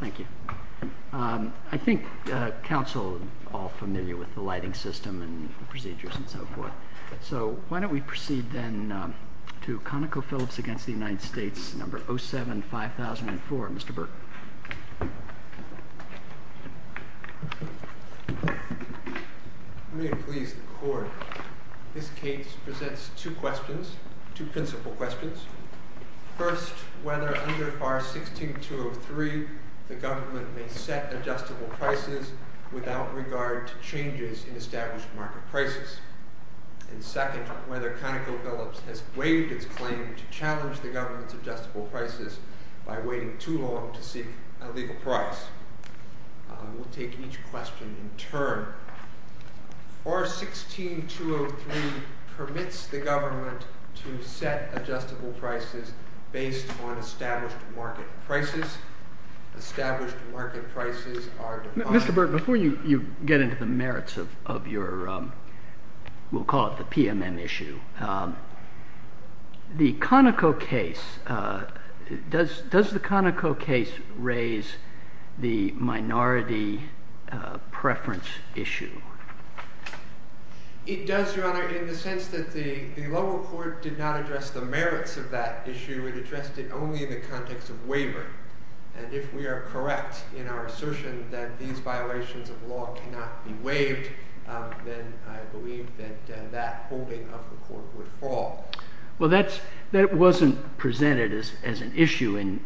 Thank you. I think Council is all familiar with the lighting system and procedures and so forth, so why don't we proceed then to Conocophillips v. United States, number 07-5004. Mr. Burke. Let me please the Court. This case presents two questions, two principal questions. First, whether under Bar 16-203 the government may set adjustable prices without regard to changes in established market prices. And second, whether Conocophillips has waived its claim to challenge the government's adjustable prices by waiting too long to seek a legal price. We'll take each on established market prices. Established market prices are defined— Mr. Burke, before you get into the merits of your, we'll call it the PMM issue, the Conoco case, does the Conoco case raise the minority preference issue? It does, Your Honor, in the sense that the context of waiver, and if we are correct in our assertion that these violations of law cannot be waived, then I believe that that holding of the Court would fall. Well, that wasn't presented as an issue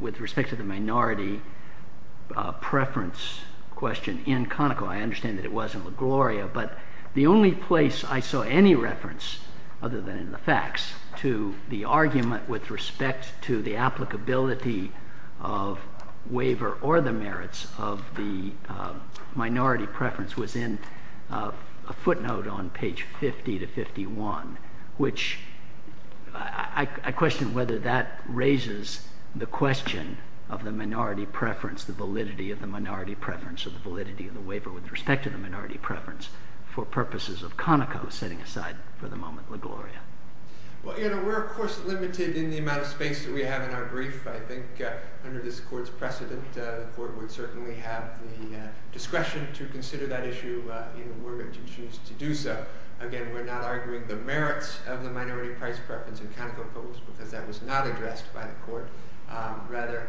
with respect to the minority preference question in Conoco. I understand that it was in LaGloria, but the only place I saw any reference, other than in the facts, to the argument with respect to the applicability of waiver or the merits of the minority preference was in a footnote on page 50 to 51, which I question whether that raises the question of the minority preference, the validity of the minority preference, or the validity of the waiver with respect to the minority preference for purposes of Conoco, setting aside for the moment LaGloria. Well, Your Honor, we're, of course, limited in the amount of space that we have in our brief. I think under this Court's precedent, the Court would certainly have the discretion to consider that issue even were it to choose to do so. Again, we're not arguing the merits of the minority price preference in Conoco because that was not addressed by the Court. Rather,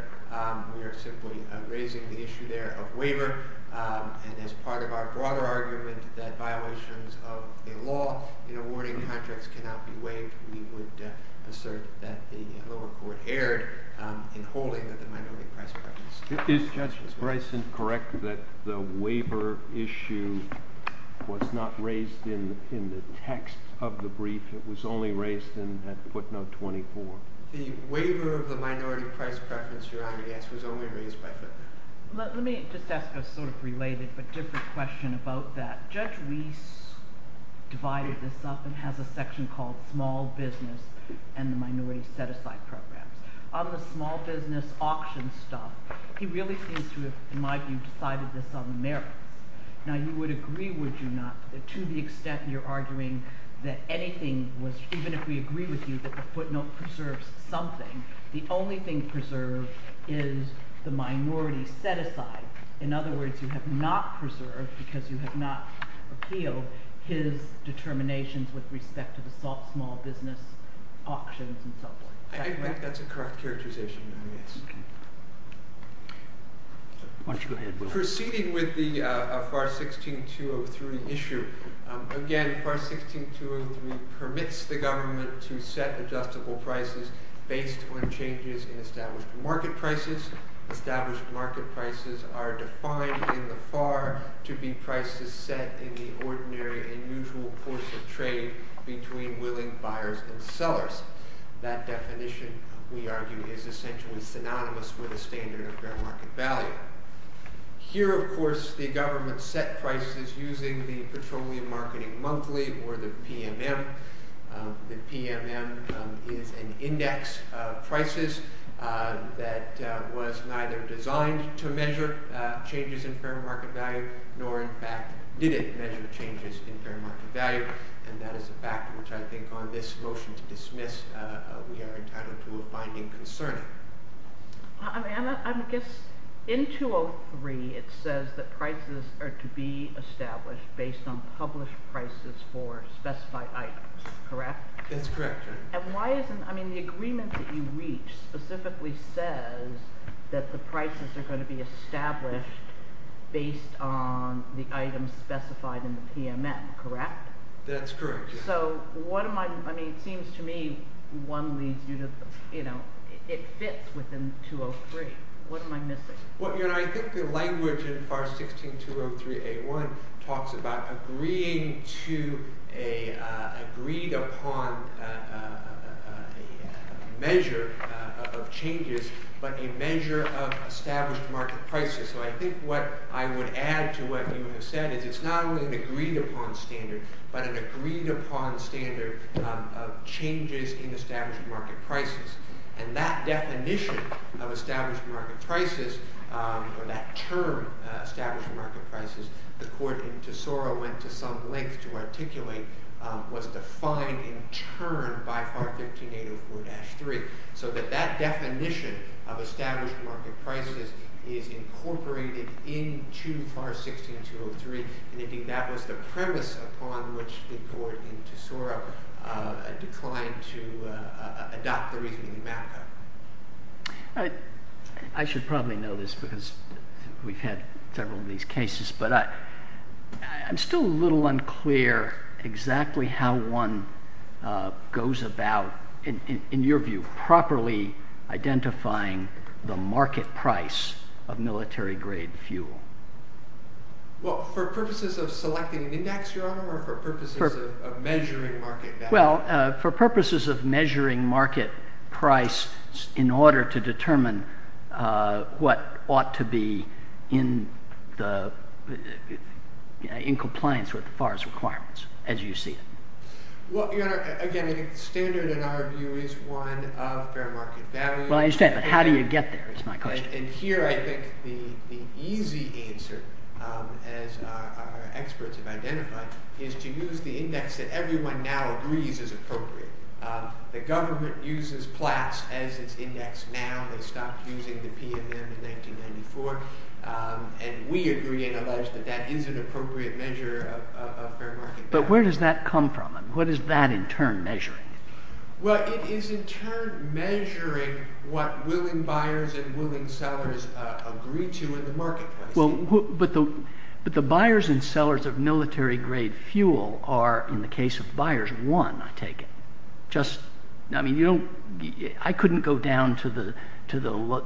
we are simply raising the issue there of waiver, and as part of our broader argument that violations of a law in awarding contracts cannot be waived, we would assert that the lower court erred in holding the minority price preference. Is Judge Bryson correct that the waiver issue was not raised in the text of the brief? It was only raised in that footnote 24? The waiver of the minority price preference, Your Honor, yes, it was only raised by footnote. Let me just ask a sort of related but different question about that. Judge Reese divided this up and has a section called small business and the minority set-aside programs. On the small business auction stuff, he really seems to have, in my view, decided this on the merits. Now, you would agree, would you not, to the extent you're arguing that anything was, even if we agree with you that the footnote preserves something, the only thing preserved is the minority set-aside. In other words, you have not preserved, because you have not appealed, his determinations with respect to the small business auctions and so forth. I think that's a correct characterization, Your Honor, yes. Why don't you go ahead? Proceeding with the FAR 16-203 issue, again, FAR 16-203 permits the government to set adjustable prices based on changes in established market prices. Established market prices are defined in the FAR to be prices set in the ordinary and usual course of trade between willing buyers and sellers. That definition, we argue, is essentially synonymous with the standard of fair market value. Here, of course, the government set prices using the PMM. The PMM is an index of prices that was neither designed to measure changes in fair market value, nor, in fact, did it measure changes in fair market value, and that is a fact which I think, on this motion to dismiss, we are entitled to a finding concerning it. I guess in 203, it says that prices are to be established based on published prices for specified items, correct? That's correct. And why isn't, I mean, the agreement that you reach specifically says that the prices are going to be established based on the items specified in the PMM, correct? That's correct. So what am I, I mean, it seems to me one leads you to, you know, it fits within 203. What am I missing? Well, you know, I think the language in FAR 16-203A1 talks about agreeing to a agreed-upon measure of changes, but a measure of established market prices. So I think what I would add to what you have said is it's not only an agreed-upon standard, but an agreed-upon standard of changes in established market prices, and that definition of established market prices, or that term established market prices, the court in Tesoro went to some length to articulate, was defined in turn by FAR 15-804-3, so that that definition of established market prices is incorporated into FAR 16-203, and I think that was the premise upon which the court in Tesoro declined to adopt the reasoning map. I should probably know this because we've had several of these cases, but I'm still a little unclear exactly how one goes about, in your view, properly identifying the market price of military-grade fuel. Well, for purposes of measuring market value. Well, for purposes of measuring market price in order to determine what ought to be in compliance with the FAR's requirements, as you see it. Well, Your Honor, again, I think the standard in our view is one of fair market value. Well, I understand, but how do you get there is my question. And here I think the easy answer, as our experts have identified, is to use the index that everyone now agrees is appropriate. The government uses PLAS as its index now. They stopped using the PMM in 1994, and we agree and allege that that is an appropriate measure of fair market value. But where does that come from? What is that in turn measuring? Well, it is in turn measuring what willing buyers and willing military-grade fuel are in the case of buyers. One, I take it. I couldn't go down to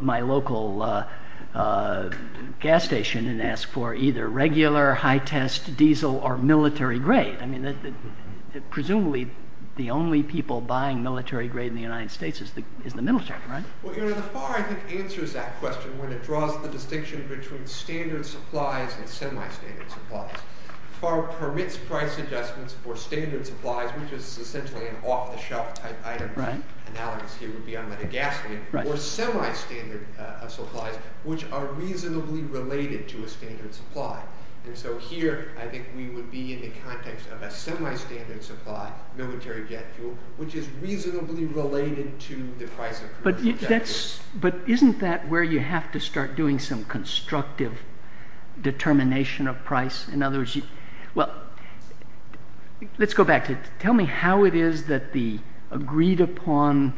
my local gas station and ask for either regular, high-test diesel, or military-grade. I mean, presumably the only people buying military-grade in the United States is the military, right? Well, Your Honor, the FAR, I think, answers that question when it draws the distinction between standard supplies and semi-standard supplies. The FAR permits price adjustments for standard supplies, which is essentially an off-the-shelf type item. Analogous here would be on metagasoline, or semi-standard supplies, which are reasonably related to a standard supply. And so here, I think we would be in the context of a semi-standard supply, military jet fuel, which is reasonably related to the price of military jet fuel. But isn't that where you have to start doing some constructive determination of price? In other words, well, let's go back to it. Tell me how it is that the agreed-upon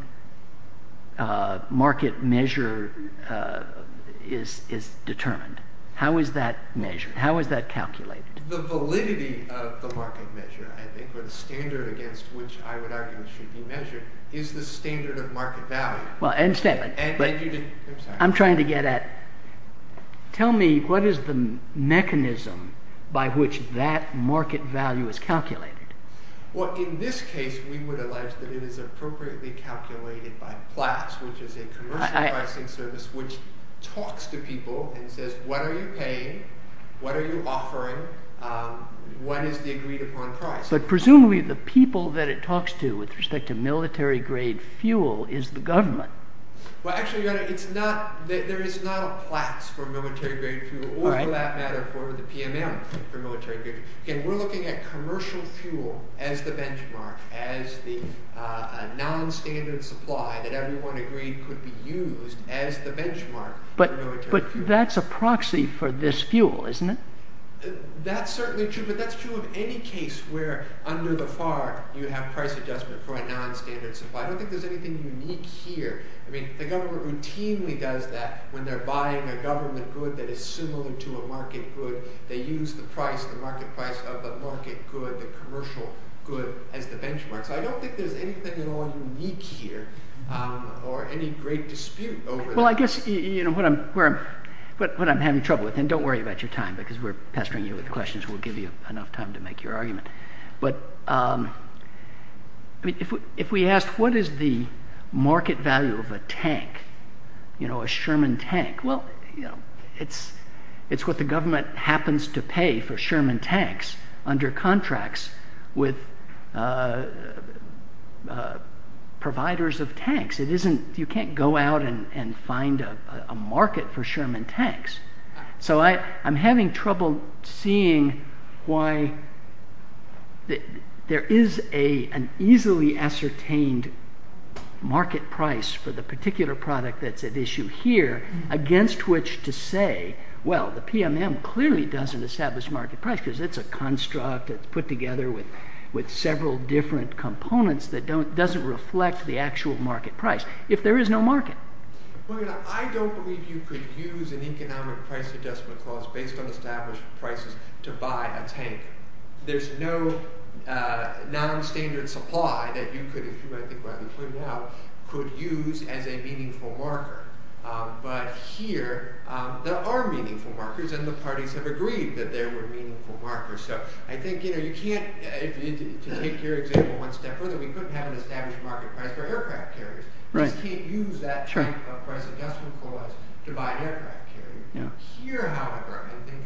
market measure is determined. How is that measured? How is that calculated? The validity of the market measure, I think, or the standard against which I would argue should be measured, is the standard of I'm trying to get at, tell me what is the mechanism by which that market value is calculated? Well, in this case, we would allege that it is appropriately calculated by PLAS, which is a commercial pricing service, which talks to people and says, what are you paying? What are you offering? What is the agreed-upon price? But presumably, the people that it talks to with respect to military-grade fuel is the government. Well, actually, your honor, there is not a PLAS for military-grade fuel, or for that matter, for the PMM for military-grade fuel. Again, we're looking at commercial fuel as the benchmark, as the non-standard supply that everyone agreed could be used as the benchmark for military fuel. But that's a proxy for this fuel, isn't it? That's certainly true, but that's true of any case where under the FAR, you have price adjustment for a non-standard supply. I don't think there's anything unique here. I mean, the government routinely does that when they're buying a government good that is similar to a market good. They use the price, the market price of the market good, the commercial good, as the benchmark. So I don't think there's anything at all unique here, or any great dispute over that. Well, I guess what I'm having trouble with, and don't worry about your time, because we're pestering you with questions. We'll give you enough time to make your argument. But if we asked, what is the market value of a tank, a Sherman tank? Well, it's what the government happens to pay for Sherman tanks under contracts with providers of tanks. You can't go out and find a market for Sherman tanks. So I'm having trouble seeing why there is an easily ascertained market price for the particular product that's at issue here, against which to say, well, the PMM clearly doesn't establish market price, because it's a construct that's put together with several different components that doesn't reflect the actual market price, if there is no market. Well, I don't believe you could use an economic price adjustment clause based on established prices to buy a tank. There's no non-standard supply that you could, if you might think about the point now, could use as a meaningful marker. But here, there are meaningful markers, and the parties have agreed that there were meaningful markers. So I think you can't, to take your example one step further, we couldn't have an established market price for aircraft carriers. You just can't use that type of price adjustment clause to buy an aircraft carrier. Here, however, I think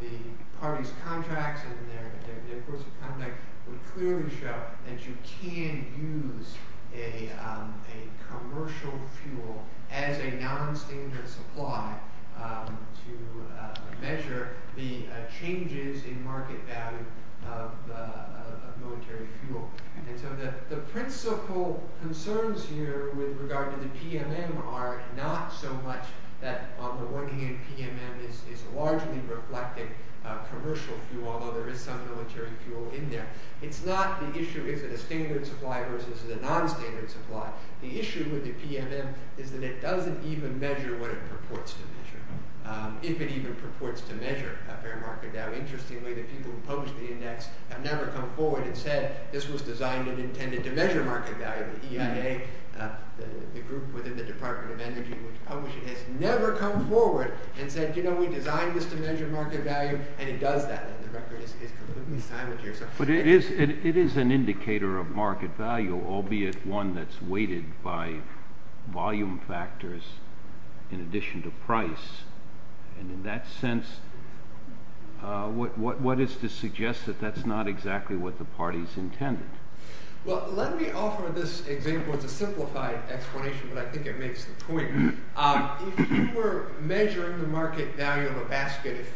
the parties' contracts and their courts of conduct would clearly show that you can use a commercial fuel as a non-standard supply to measure the changes in market value of military fuel. And so the principal concerns here with regard to the PMM are not so much that on the one hand, PMM is largely reflecting commercial fuel, although there is some military fuel in there. It's not the issue, is it a standard supply versus a non-standard supply? The issue with the PMM is that it doesn't even measure what it purports to measure, if it even purports to measure a fair market value. Interestingly, the people who published the index have never come forward and said, this was designed and intended to measure market value. The EIA, the group within the Department of Energy which published it, has never come forward and said, you know, we designed this to measure market value, and it does that, and the record is completely silent here. But it is an indicator of market value, albeit one that's factors in addition to price. And in that sense, what is to suggest that that's not exactly what the party's intended? Well, let me offer this example as a simplified explanation, but I think it makes the point. If you were measuring the market value of a basket of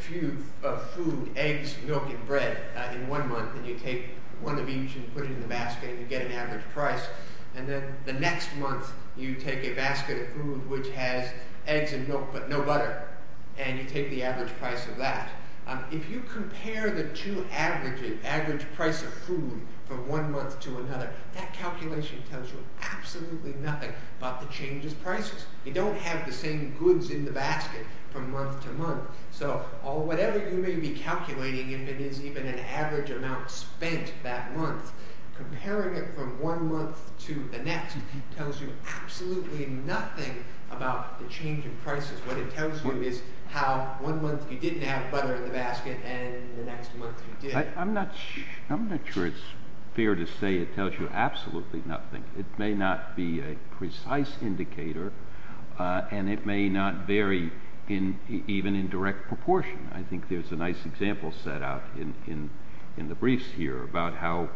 food, eggs, milk, and bread in one month, and you take one of each and put it in the basket, and you get an average price, and then the next month you take a basket of food which has eggs and milk but no butter, and you take the average price of that. If you compare the two averages, average price of food, from one month to another, that calculation tells you absolutely nothing about the changes prices. You don't have the same goods in the basket from month to month. So whatever you may be calculating, if it is even an average amount spent that month, comparing it from one month to the next tells you absolutely nothing about the change in prices. What it tells you is how one month you didn't have butter in the basket, and the next month you did. I'm not sure it's fair to say it tells you absolutely nothing. It may not be a precise indicator, and it may not vary even in direct proportion. I think there's a nice example set out in the briefs here about how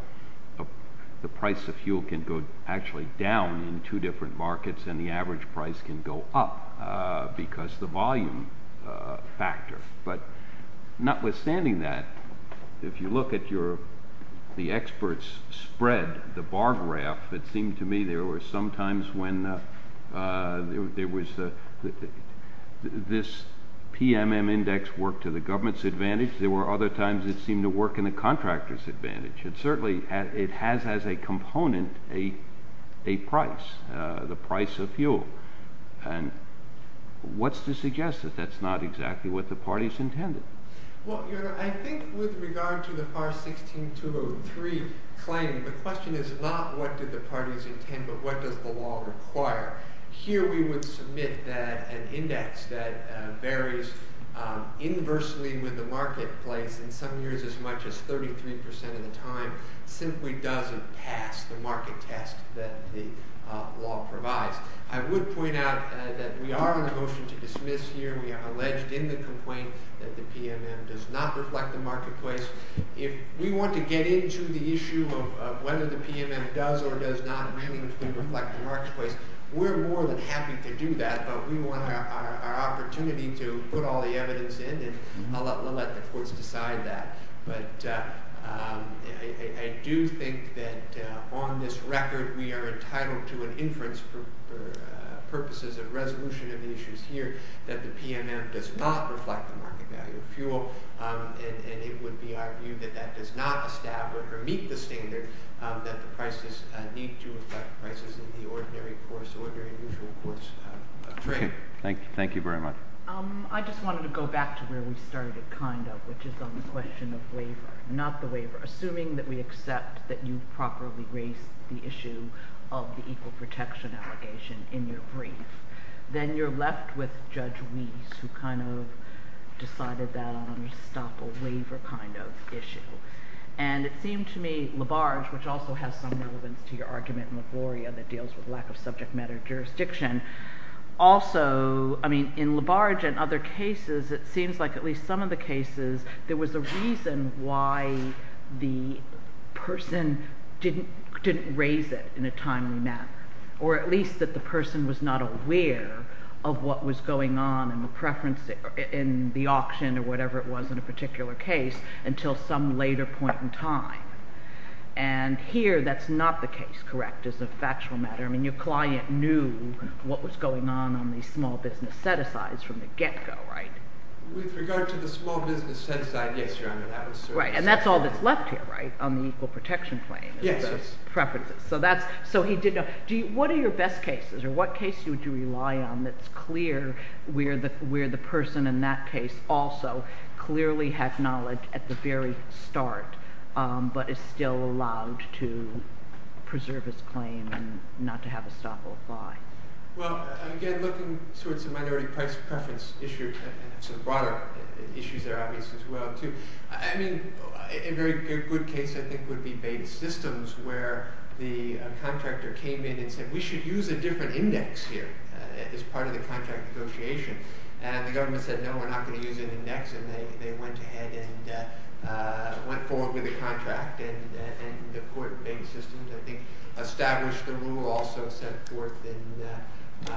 the price of fuel can go actually down in two different markets, and the average price can go up because the volume factor. But notwithstanding that, if you look at the experts' spread, the bar graph, it seemed to me there were some times when this PMM index worked to the government's advantage. There were other times it seemed to work in the contractor's advantage. And certainly it has as a component a price, the price of fuel. And what's to suggest that that's not exactly what the parties intended? Well, I think with regard to the FAR 16-203 claim, the question is not what did the parties intend, but what does the law require? Here we would submit that an index that varies inversely with the marketplace in some years as much as 33 percent of the time simply doesn't pass the market test that the law provides. I would point out that we are on a motion to dismiss here. We have alleged in the complaint that the PMM does not reflect the marketplace. If we want to get into the issue of whether the PMM does or does not really reflect the marketplace, we're more than happy to do that, but we want our opportunity to put all the evidence in, and I'll let the courts decide that. But I do think that on this record we are entitled to an inference for purposes of issues here that the PMM does not reflect the market value of fuel, and it would be our view that that does not establish or meet the standard that the prices need to affect prices in the ordinary course, ordinary and usual course of trade. Thank you. Thank you very much. I just wanted to go back to where we started kind of, which is on the question of waiver, not the waiver. Assuming that we accept that you've properly raised the issue of the equal protection allegation in your brief, then you're left with Judge Weese, who kind of decided that I'm going to stop a waiver kind of issue. And it seemed to me Labarge, which also has some relevance to your argument in LaGloria that deals with lack of subject matter jurisdiction, also, I mean in Labarge and other cases, it seems like at least some of the cases there was a reason why the person didn't raise it in a way that they were not aware of what was going on in the preference in the auction or whatever it was in a particular case until some later point in time. And here that's not the case, correct, as a factual matter. I mean your client knew what was going on on the small business set-asides from the get-go, right? With regard to the small business set-aside, yes, Your Honor, that was certainly the case. Right, and that's all that's left here, right, on the equal protection claim, is those preferences. So that's, so he did know. Do you, what are your best cases or what case would you rely on that's clear where the person in that case also clearly had knowledge at the very start but is still allowed to preserve his claim and not to have a stop or fly? Well, again, looking towards the minority price preference issue and some broader issues there, obviously, as well, too. I mean a very good case, I think, would be Bates Systems where the contractor came in and said, we should use a different index here as part of the contract negotiation. And the government said, no, we're not going to use an index, and they went ahead and went forward with the contract. And the court of Bates Systems, I think, established the rule, also set forth in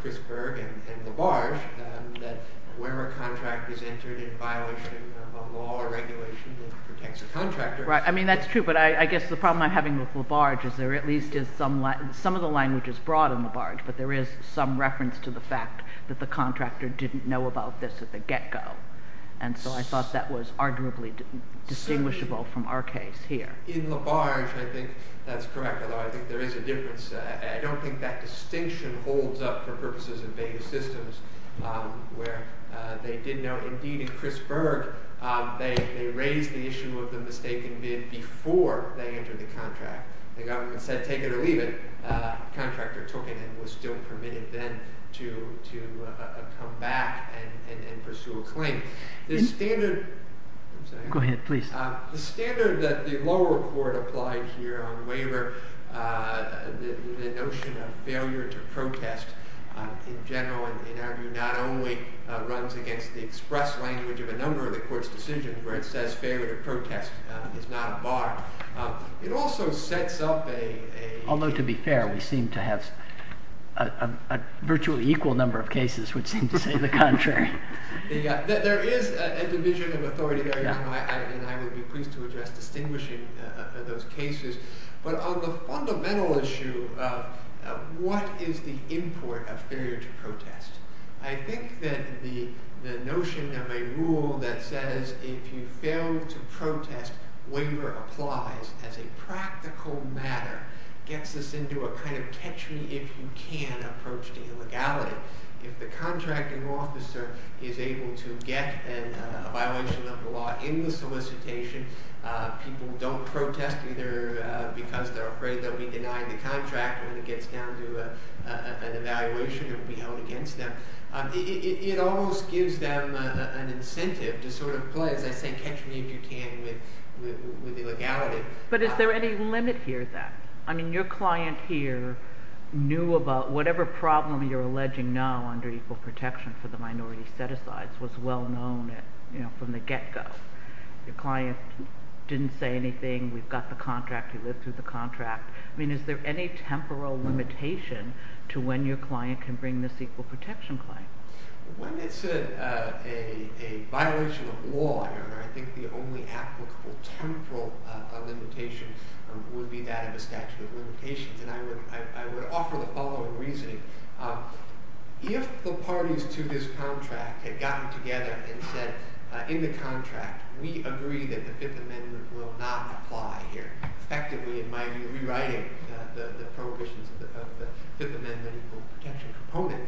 Crisper and Labarge, that where a contract is entered in violation of a law or regulation that protects the contractor. Right, I mean that's true, but I guess the problem I'm with Labarge is there at least is some of the language is broad in Labarge, but there is some reference to the fact that the contractor didn't know about this at the get-go. And so I thought that was arguably distinguishable from our case here. In Labarge, I think that's correct, although I think there is a difference. I don't think that distinction holds up for purposes of Bates Systems where they did know. Indeed, in Crisper, they raised the issue of the mistaken bid before they entered the contract. The government said, take it or leave it. The contractor took it and was still permitted then to come back and pursue a claim. The standard that the lower court applied here on waiver, the notion of failure to protest in general, in our view, not only runs against the express language of a number of the court's decisions where it says failure to protest is not a bar, it also sets up a... Although to be fair, we seem to have a virtually equal number of cases which seem to say the contrary. There is a division of authority there, and I would be pleased to address distinguishing those cases, but on the fundamental issue of what is the import of a rule that says if you fail to protest, waiver applies as a practical matter, gets us into a kind of catch-me-if-you-can approach to illegality. If the contracting officer is able to get a violation of the law in the solicitation, people don't protest either because they're afraid they'll be denied the contract when it gets down to an evaluation and be held against them. It almost gives them an incentive to sort of play, as I say, catch-me-if-you-can with illegality. But is there any limit here then? I mean, your client here knew about whatever problem you're alleging now under equal protection for the minority set-asides was well known from the get-go. Your client didn't say anything, we've got the contract, he lived through the contract. I mean, is there any temporal limitation to when your client can bring this equal protection claim? When it's a violation of law, I think the only applicable temporal limitation would be that of a statute of limitations, and I would offer the following reasoning. If the parties to this contract had gotten together and said, in the contract, we agree that the Fifth Amendment will not apply here, effectively it might be rewriting the prohibitions of the Fifth Amendment equal protection.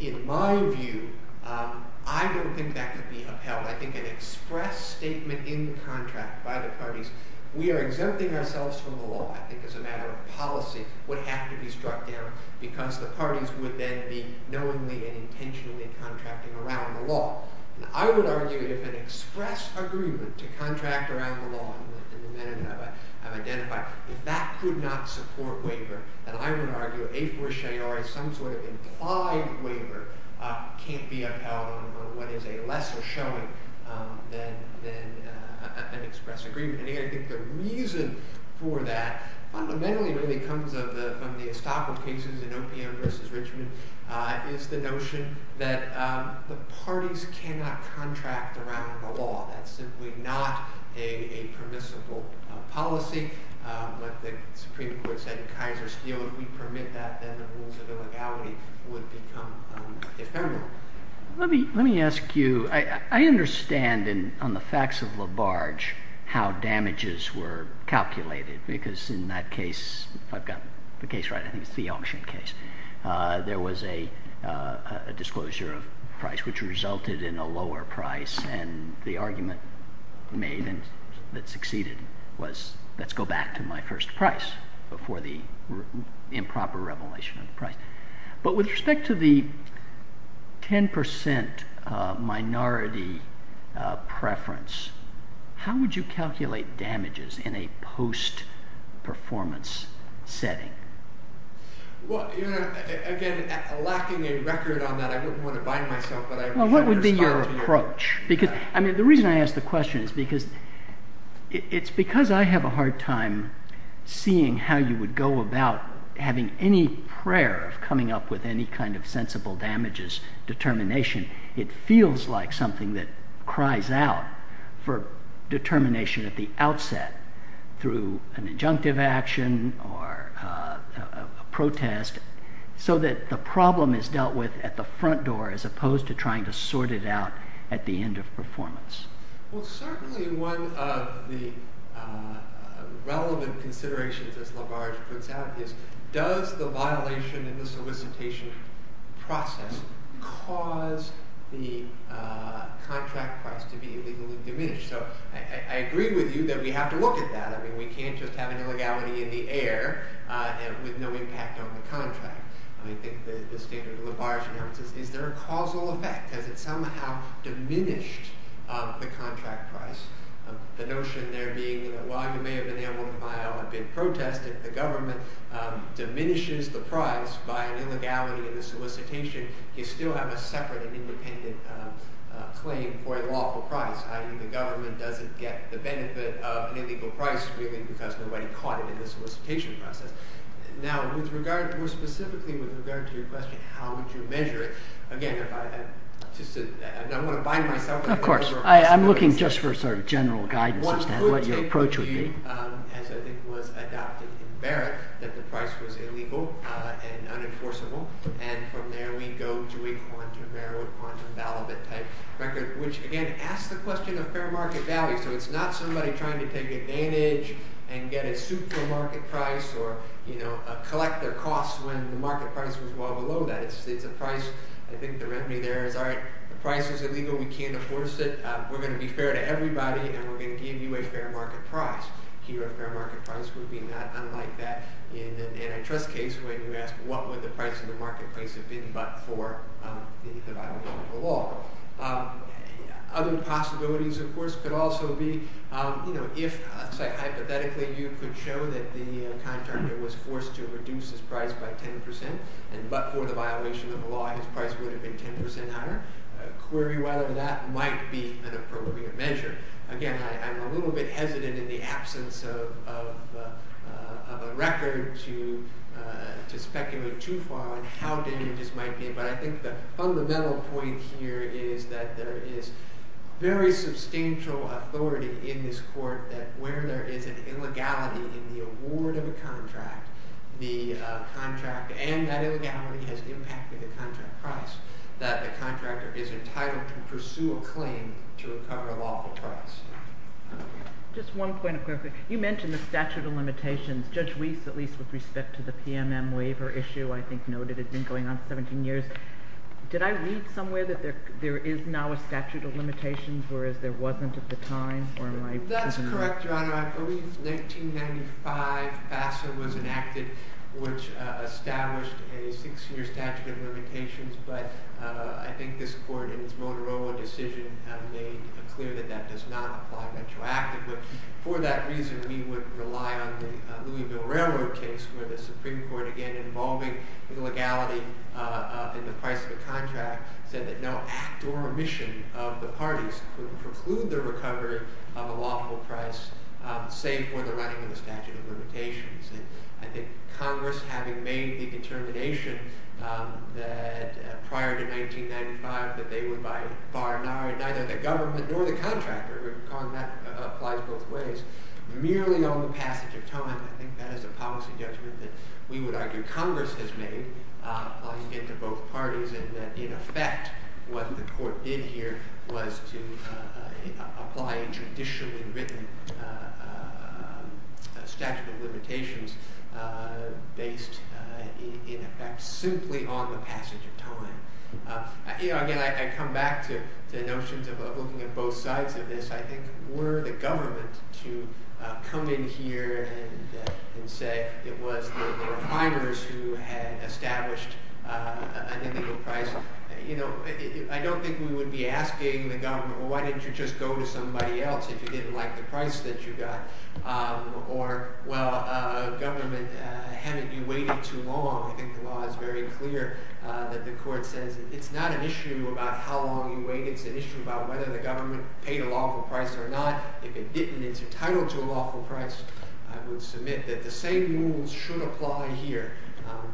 In my view, I don't think that could be upheld. I think an express statement in the contract by the parties, we are exempting ourselves from the law, I think as a matter of policy, would have to be struck down, because the parties would then be knowingly and intentionally contracting around the law. And I would argue if an express agreement to contract around the law, and the amendment I've identified, if that could not support waiver, then I would argue, some sort of implied waiver can't be upheld on what is a lesser showing than an express agreement. And again, I think the reason for that fundamentally really comes from the Estaco cases in OPM versus Richmond, is the notion that the parties cannot contract around the law. That's simply not a permissible policy. Like the Supreme Court said in Kaiser's deal, if we permit that, then the rules of illegality would become ephemeral. Let me ask you, I understand on the facts of LaBarge, how damages were calculated, because in that case, if I've got the case right, I think it's the auction case, there was a disclosure of price, which resulted in a lower price, and the argument made and that succeeded was, let's go back to my first price, before the improper revelation of the price. But with respect to the 10% minority preference, how would you calculate damages in a post-performance setting? Well, you know, again, lacking a record on that, I wouldn't want to ask the question, it's because I have a hard time seeing how you would go about having any prayer of coming up with any kind of sensible damages determination. It feels like something that cries out for determination at the outset, through an injunctive action or a protest, so that the problem is dealt with at the front door as opposed to trying to sort it out at the end of performance. Well, certainly one of the relevant considerations, as LaBarge puts out, is does the violation in the solicitation process cause the contract price to be illegally diminished? So I agree with you that we have to look at that. I mean, we can't just have an illegality in the air with no impact on the contract. I think the standard LaBarge announces, is there a causal effect? Has it somehow diminished the contract price? The notion there being that while you may have been able to file a bid protest, if the government diminishes the price by an illegality in the solicitation, you still have a separate and independent claim for a lawful price, i.e. the government doesn't get the benefit of an illegal price really because nobody caught it in the solicitation process. Now, more specifically with regard to your question, how would you measure it? Again, I'm going to bind myself. Of course. I'm looking just for sort of general guidance as to what your approach would be. As I think was adopted in Barrett, that the price was illegal and unenforceable, and from there we go to a quantum error, quantum validate type record, which again asks the question of fair market value. So it's not somebody trying to take advantage and get a super market price or collect their costs when the market price was well below that. It's a price, I think the remedy there is all right, the price is illegal, we can't enforce it, we're going to be fair to everybody, and we're going to give you a fair market price. Here a fair market price would be not unlike that in an antitrust case when you ask what would the price of the marketplace have been but for the violation of the law. Other possibilities of course could also be, you know, if hypothetically you could show that the contractor was forced to reduce his price by 10% and but for the violation of the law his price would have been 10% higher, query whether that might be an appropriate measure. Again, I'm a little bit hesitant in the absence of a record to speculate too far on how dangerous might be, but I think the fundamental point here is that there is very substantial authority in this court that where there is an illegality in the award of a contract, the contract and that illegality has impacted the contract price, that the contractor is entitled to pursue a claim to recover a lawful price. Just one point of clarification. You mentioned the statute of limitations. Judge Weiss, at least with respect to the PMM waiver issue, I think noted it's been going on for 17 years. Did I read somewhere that there there is now a statute of limitations whereas there wasn't at the time? That's correct, Your Honor. I believe 1995 FASA was enacted which established a six-year statute of limitations, but I think this court in its Motorola decision has made clear that that does not apply retroactively. For that reason, we would rely on the Louisville Railroad case where the Supreme Court, again involving the legality in the price of a contract, said that no act or omission of the parties could preclude the recovery of a lawful price save for the running of the statute of limitations. I think Congress, having made the determination that prior to 1995 that they would by far neither the government nor the contractor, calling that applies both ways, merely on the passage of time, I think that is a policy judgment that we would argue Congress has made applying it to both parties and that in effect what the court did here was to apply a traditionally written statute of limitations based in effect simply on the passage of time. Again, I come back to the notions of looking at both sides of this. I think were the government to come in here and say it was the refiners who had established an illegal price, you know, I don't think we would be asking the government, well, why didn't you just go to somebody else if you didn't like the price that you got? Or, well, a government hadn't been waiting too long. I think the law is very clear that the court says it's not an issue about how long you wait, it's an issue about whether the government paid a lawful price or not. If it didn't, it's entitled to a lawful price. I would submit that the same rules should apply here.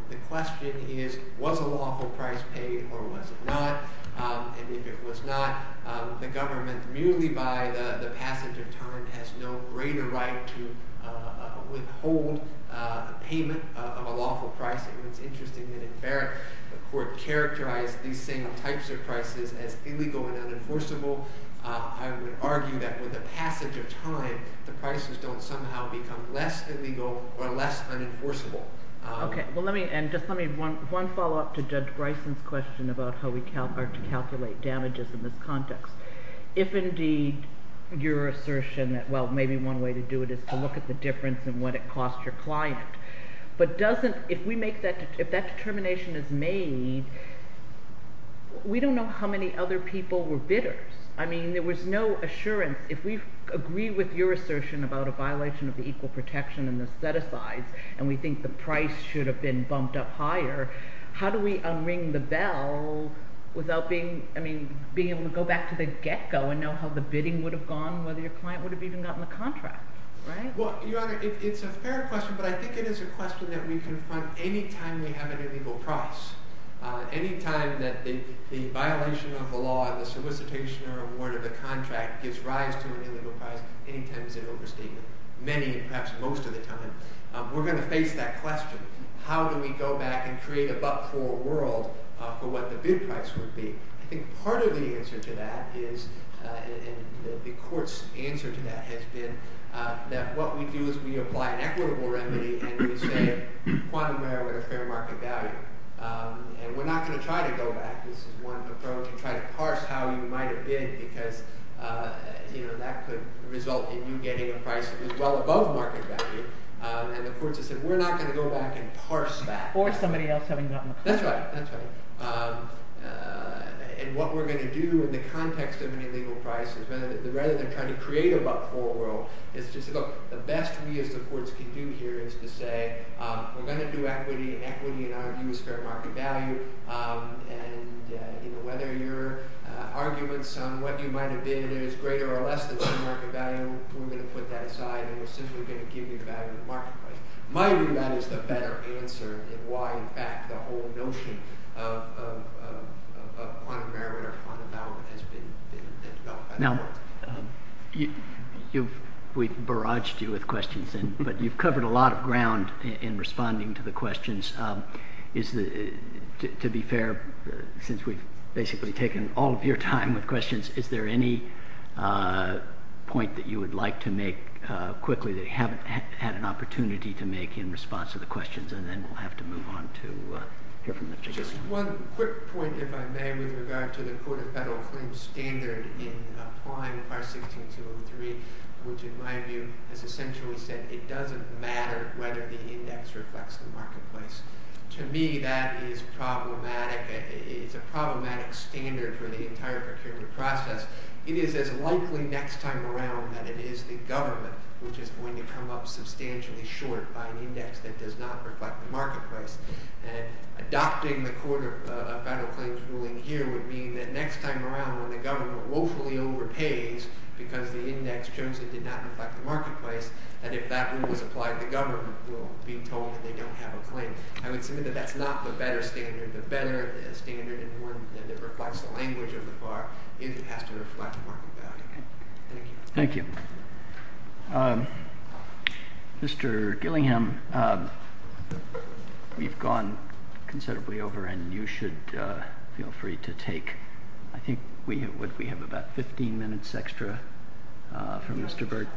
The question is, was a lawful price paid or was it not? And if it was not, the government merely by the passage of time has no greater right to withhold a payment of a lawful price. It's interesting that in Barrett the court characterized these same types of prices as illegal and unenforceable. I would argue that with the passage of time, the prices don't somehow become less illegal or less unenforceable. Okay, well let me, and just let me, one follow-up to Judge Bryson's question about how we calculate damages in this context. If indeed your assertion that, well, maybe one way to do it is to look at the difference in what it cost your client, but doesn't, if we make that, if that determination is made, we don't know how many other people were bidders. I mean, there was no assurance. If we agree with your assertion about a violation of the equal protection and the set-asides, and we think the price should have been bumped up higher, how do we unring the bell without being, I mean, being able to go back to the get-go and know how the bidding would have gone, whether your client would have even gotten the contract, right? Well, Your Honor, it's a fair question, but I think it is a question that we confront any time we have an illegal price. Anytime that the violation of the law and the solicitation or award of the contract gives rise to an illegal price, any time is an overstatement. Many, perhaps most of the time, we're going to face that question. How do we go back and create a buck-full world for what the bid price would be? I think part of the answer to that is, and the Court's answer to that has been, that what we do is we apply an equitable remedy and we say, quantum error at a fair market value. And we're not going to try to go back, this is one approach, and try to parse how you might have bid because, you know, that could result in you getting a price that was well above market value. And the Court's answer is, we're not going to go back and parse that. Or somebody else having gotten the contract. That's right, that's right. And what we're going to do in the context of an illegal price is, rather than trying to create a buck-full world, it's just, look, the best we as the Courts can do here is to say, we're going to do equity, and equity in our view is fair market value. And, you know, whether your arguments on what you might have bidded is greater or less than fair market value, we're going to put that aside and we're simply going to give you value at the market price. In my view, that is the better answer in why, in fact, the whole notion of You've, we've barraged you with questions, but you've covered a lot of ground in responding to the questions. To be fair, since we've basically taken all of your time with questions, is there any point that you would like to make quickly that you haven't had an opportunity to make in response to the questions, and then we'll have to move on to hear from the judges. Just one quick point, if I may, with regard to the Court of Federal Claims standard in applying Part 16-203, which, in my view, has essentially said it doesn't matter whether the index reflects the marketplace. To me, that is problematic. It's a problematic standard for the entire procurement process. It is as likely next time around that it is the government which is going to come up substantially short by an index that does not reflect the marketplace. And adopting the Court of Federal Claims ruling here would mean that next time around when the government woefully overpays because the index shows it did not reflect the marketplace, that if that rule was applied, the government will be told that they don't have a claim. I would submit that that's not the better standard. The better standard and one that reflects the language of the FAR is it has to reflect market value. Thank you. Mr. Gillingham, we've gone considerably over, and you should feel free to take, I think we have about 15 minutes extra from Mr. Burt.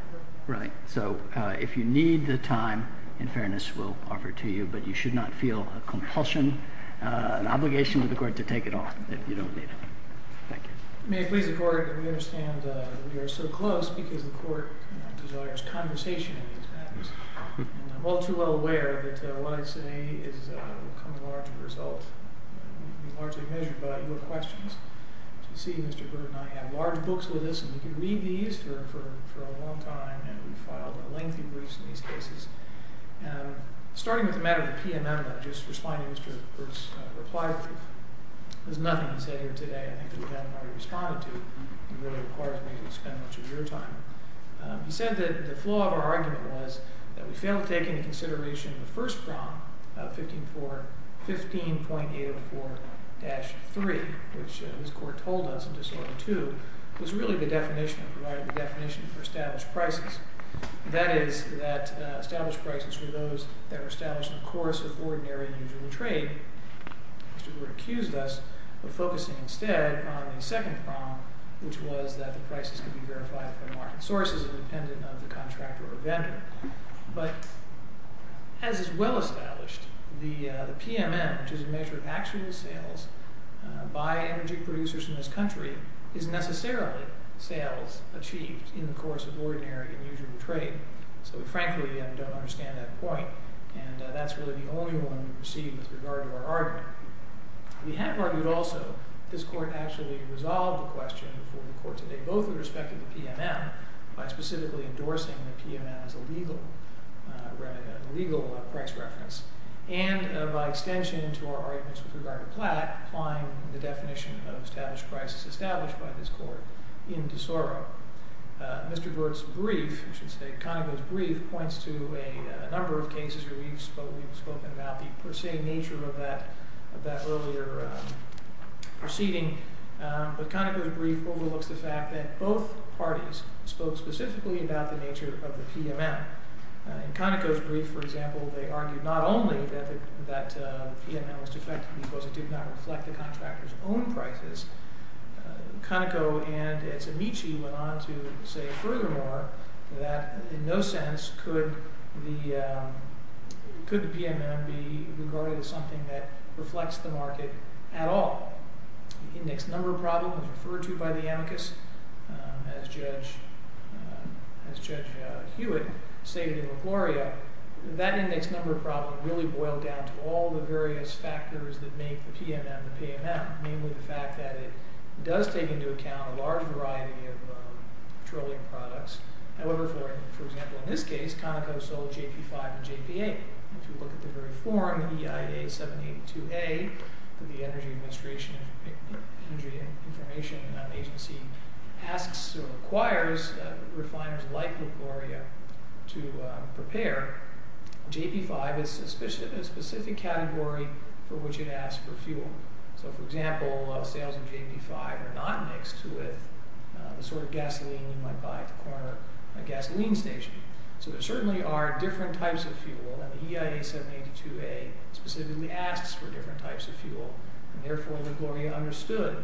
Right, so if you need the time, in fairness, we'll offer it to you, but you should not feel a compulsion, an obligation to the Court to take it off if you don't need it. Thank you. May it please the Court that we understand that we are so close because the Court desires conversation in these matters, and I'm all too well aware that what I say is a large result, largely measured by your questions. As you see, Mr. Burt and I have large books with us, and we could read these for a long time, and we've filed lengthy briefs in these cases. Starting with the matter of the PMM, just responding to Mr. Burt's reply, there's nothing he said here today I think that we haven't already responded to. It really requires me to spend much of your time. He said that the flaw of our argument was that we failed to take into consideration the first prong of 15.804-3, which his Court told us in disorder 2 was really the definition, provided the definition for established prices. That is that established were those that were established in the course of ordinary and usual trade. Mr. Burt accused us of focusing instead on the second prong, which was that the prices could be verified from market sources independent of the contractor or vendor. But as is well established, the PMM, which is a measure of actual sales by energy producers in this country, is necessarily sales achieved in the course of ordinary and usual trade. So we frankly don't understand that point, and that's really the only one we've received with regard to our argument. We have argued also that this Court actually resolved the question for the Court today, both with respect to the PMM, by specifically endorsing the PMM as a legal price reference, and by extension to our arguments with regard to Platt applying the definition of established prices established by this Court in De Soro. Mr. Burt's brief, I should say Conoco's brief, points to a number of cases where we've spoken about the per se nature of that earlier proceeding, but Conoco's brief overlooks the fact that both parties spoke specifically about the nature of the PMM. In Conoco's brief, for example, they argued not only that that PMM was defective because it did not reflect the contractor's own prices. Conoco and its amici went on to say furthermore that in no sense could the PMM be regarded as something that reflects the market at all. The index number problem was referred to by the amicus as Judge Hewitt stated in LaGloria. That index number problem really boiled down to all the various factors that make the PMM the PMM, mainly the fact that it does take into account a large variety of patrolling products. However, for example, in this case Conoco sold JP5 and JP8. If you look at the very form EIA 782A that the Energy Administration, Energy Information Agency, asks or requires refiners like LaGloria to prepare, JP5 is a specific category for which it asked for fuel. So for example, sales of JP5 are not mixed with the sort of gasoline you might buy at the corner gasoline station. So there certainly are different types of fuel and the EIA 782A specifically asks for different types of fuel and therefore LaGloria understood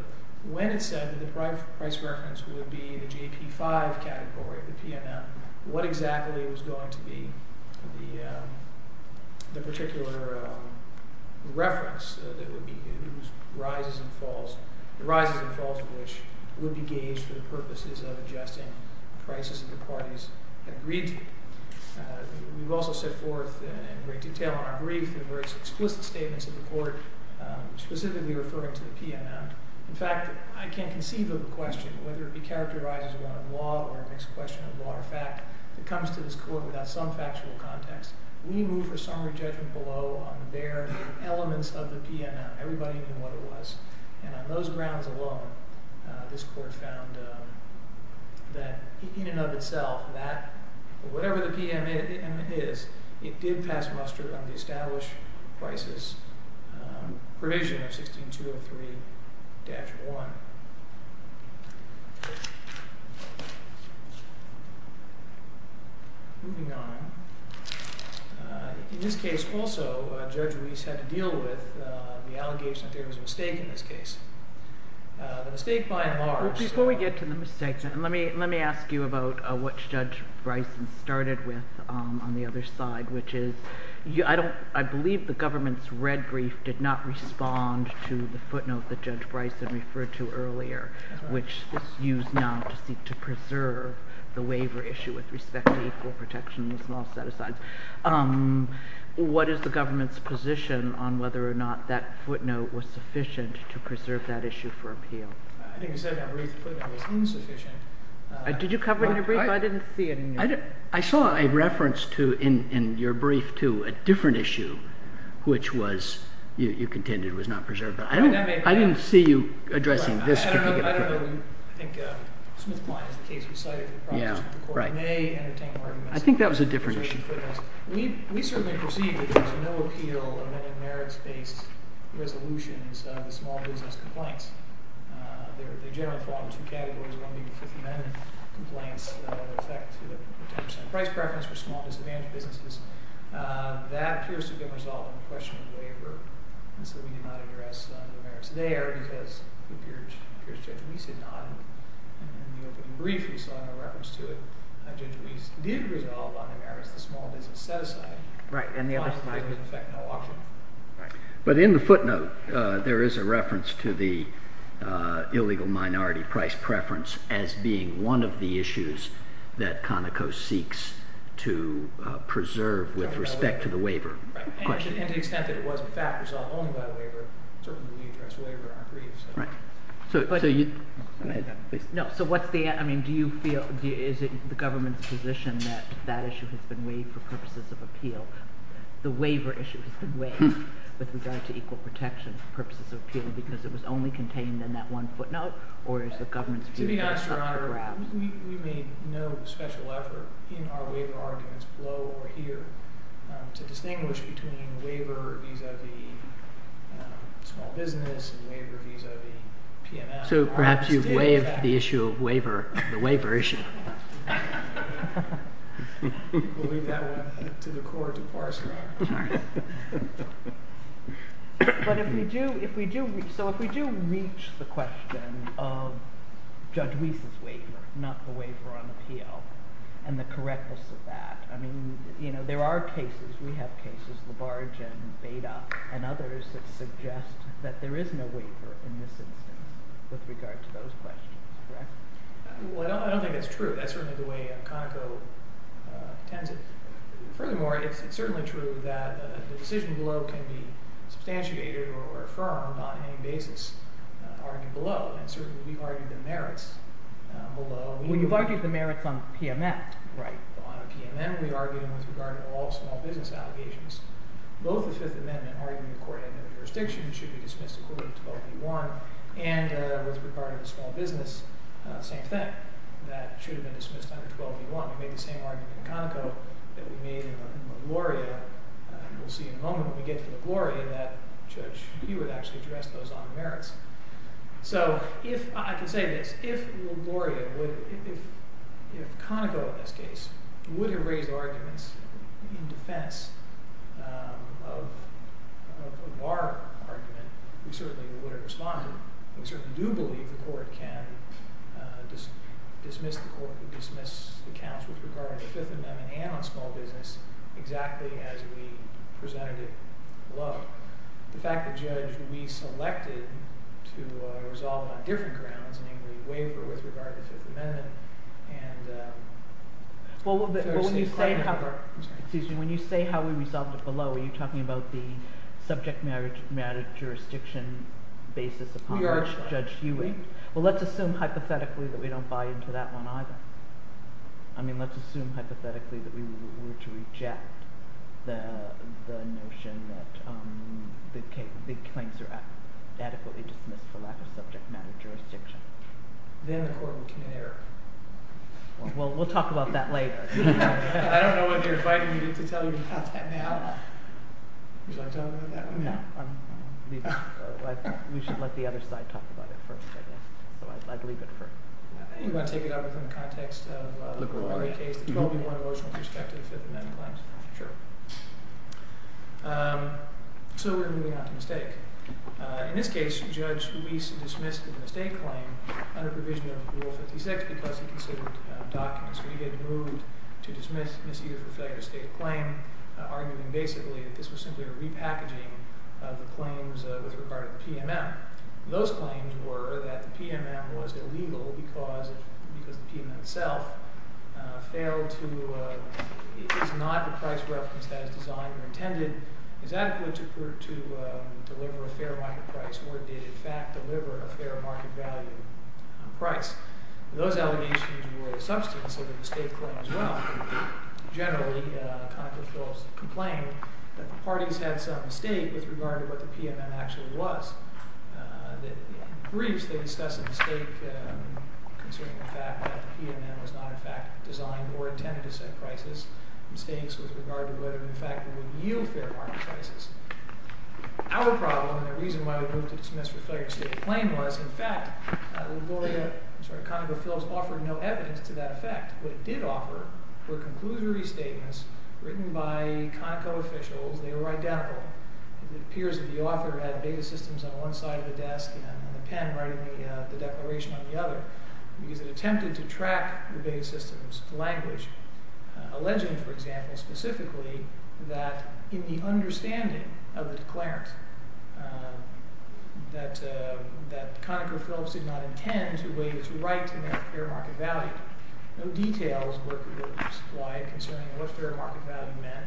when it said that the price reference would be the JP5 category, the PMM, what exactly was going to be the particular reference that would be whose rises and falls, the rises and falls of which would be gauged for the purposes of adjusting prices that the parties agreed to. We've also set forth in great detail in our brief the various explicit statements of the court specifically referring to the PMM. In fact, I can't conceive of a question whether it be characterized as one of law or a mixed question of law or fact that comes to this court without some factual context. We move for summary judgment below on the bare elements of the PMM. Everybody knew what it was and on those grounds alone this court found that in and of itself that whatever the PMM is, it did pass muster on the established prices provision of 16203-1. Moving on, in this case also Judge Ruiz had to deal with the allegation that there was a mistake in this case. The mistake by and large... Before we get to the mistakes, let me ask you about what Judge Bryson started with on the other side which is, I believe the government's red brief did not use now to preserve the waiver issue with respect to equal protection and small set-asides. What is the government's position on whether or not that footnote was sufficient to preserve that issue for appeal? I think you said that Ruiz's footnote was insufficient. Did you cover it in your brief? I didn't see it in your brief. I saw a reference in your brief to a different issue which was, you contended, was not preserved. I didn't see you addressing this. I don't know. I think Smith-Klein is the case we cited. I think that was a different issue. We certainly perceive that there was no appeal of any merits-based resolutions on the small business compliance. They generally fall into two categories, one being Fifth Amendment complaints that affect the price preference for small disadvantaged businesses. That appears to have been resolved in question of waiver, and so we did not address the merits there because Judge Ruiz did not. In the opening brief, we saw in a reference to it, Judge Ruiz did resolve on the merits of the small business set-aside. Right, and the other side didn't affect no option. But in the footnote, there is a reference to the illegal minority price preference as being one of the issues that Conoco seeks to preserve with respect to the waiver. And to the extent that it was, in fact, resolved only by the waiver, certainly we need to address waiver in our briefs. So what's the, I mean, do you feel, is it the government's position that that issue has been waived for purposes of appeal? The waiver issue has been waived with regard to equal protection for purposes of appeal because it was only contained in that one footnote, or is the government's view that it's up for grabs? To be honest, Your Honor, we made no special effort in our waiver arguments below or here to distinguish between waiver vis-a-vis small business and waiver vis-a-vis PNM. So perhaps you've waived the issue of waiver, the waiver issue. We'll leave that one to the court to parse, Your Honor. But if we do, if we do, so if we do reach the question of Judge Weiss's waiver, not the waiver on appeal, and the correctness of that, I mean, you know, there are cases, we have cases, Labarge and Beda and others that suggest that there is no waiver in this instance with regard to those questions. Correct? Well, I don't think it's true. That's certainly the way Conoco tends it. Furthermore, it's certainly true that the decision below can be substantiated or affirmed on any basis argued below, and certainly we've argued the merits below. Well, you've argued the merits on PNM. Right. On PNM, we argued them with regard to all small business allegations. Both the Fifth Amendment arguing the court had no jurisdiction should be dismissed according to 12b1, and with regard to the small business, same thing, that should have been dismissed under 12b1. We made the same argument in Conoco that we made in LaGloria, and we'll see in a moment when we get to LaGloria that Judge Hewitt actually addressed those on merits. So if, I can say this, if LaGloria would, if if Conoco in this case would have raised arguments in defense of a bar argument, we certainly would have responded. We certainly do believe the court can dismiss the court, dismiss the counts with regard to the Fifth Amendment and on small business exactly as we presented it below. The fact that, Judge, we selected to resolve it on different grounds, namely waiver with regard to the Fifth Amendment, and... Well, when you say how, excuse me, when you say how we resolved it below, are you talking about the subject matter jurisdiction basis of Judge Hewitt? Well, let's assume hypothetically that we don't buy into that one either. I mean, let's assume hypothetically that we were to reject the notion that big claims are adequately dismissed for lack of subject matter jurisdiction. Then the court would commit an error. Well, we'll talk about that later. I don't know whether you're invited me to tell you about that now. Would you like to talk about that? No. We should let the other side talk about it first, I guess. So I'd leave it for... You want to take it up within the context of the LaGloria case, the 12-1 emotional perspective of the Fifth Amendment claims? Sure. So we're moving on to mistake. In this case, Judge Ruiz dismissed the mistake claim under provision of Rule 56 because he considered documents. When you get moved to dismiss misuse or failure to state a claim, arguing basically that this was simply a repackaging of the claims with regard to the PMM. Those claims were that the PMM was illegal because the PMM itself failed to... It is not the price reference that is designed or intended is adequate to deliver a fair market price or did in fact deliver a fair market value price. Those allegations were the substance of the mistake claim as well. Generally, Concord Phillips complained that the parties had some mistake with regard to what the PMM actually was. In briefs, they discuss a mistake concerning the fact that the PMM was not in fact designed or intended to set prices. Mistakes with regard to whether in fact it would yield fair market prices. Our problem and the reason why we moved to dismiss for failure to state a claim was in fact the Gloria, I'm sorry, Conoco Phillips offered no evidence to that effect. What it did offer were conclusory statements written by Conoco officials. They were identical. It appears that the author had beta systems on one side of the desk and on the pen writing the declaration on the other because it attempted to track the beta systems language. Alleging, for example, specifically that in the understanding of the declarant, that Conoco Phillips did not intend to waive his right to fair market value. No details were supplied concerning what fair market value meant,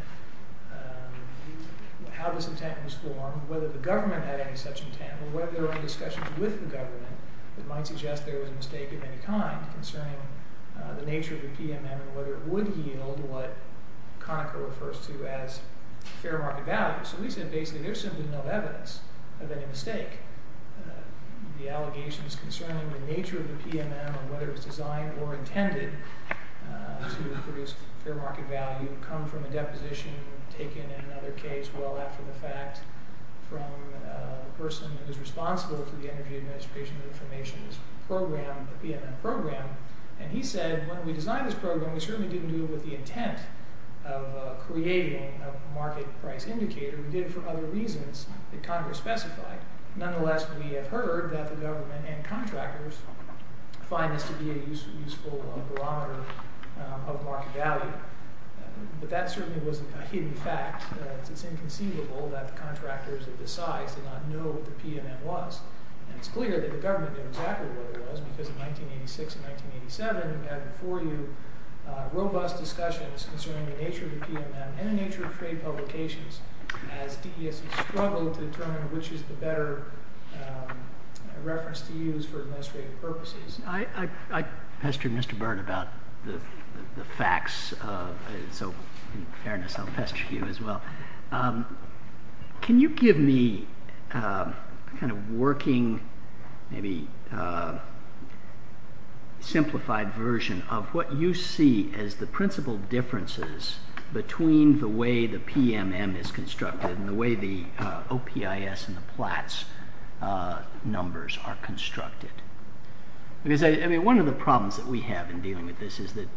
how this intent was formed, whether the government had any such intent, or whether there were discussions with the government that might suggest there was a mistake of any kind concerning the nature of the PMM and whether it would yield what Conoco refers to as fair market value. So we said basically there's simply no evidence of any mistake. The allegations concerning the nature of the PMM and whether it was designed or intended to produce fair market value come from a deposition taken in another case well after the fact from a person who is responsible for the Energy Administration of Information's program, the PMM program, and he said when we designed this program we certainly didn't do it with the intent of creating a market price indicator. We did it for other reasons that Congress specified. Nonetheless, we have heard that the government and contractors find this to be a useful barometer of market value, but that certainly wasn't a hidden fact. It's inconceivable that the contractors of this size did not know what the PMM was. And it's clear that the government knew exactly what it was because in 1986 and 1987 we had before you robust discussions concerning the nature of the PMM and the nature of trade publications as DES struggled to determine which is the better reference to use for administrative purposes. I pestered Mr. Byrne about the facts, so in fairness I'll pester you as well. Can you give me a kind of working, maybe simplified version of what you see as the principal differences between the way the PMM is constructed and the way the OPIS and the PLATS numbers are constructed? One of the problems that we have in dealing with this is that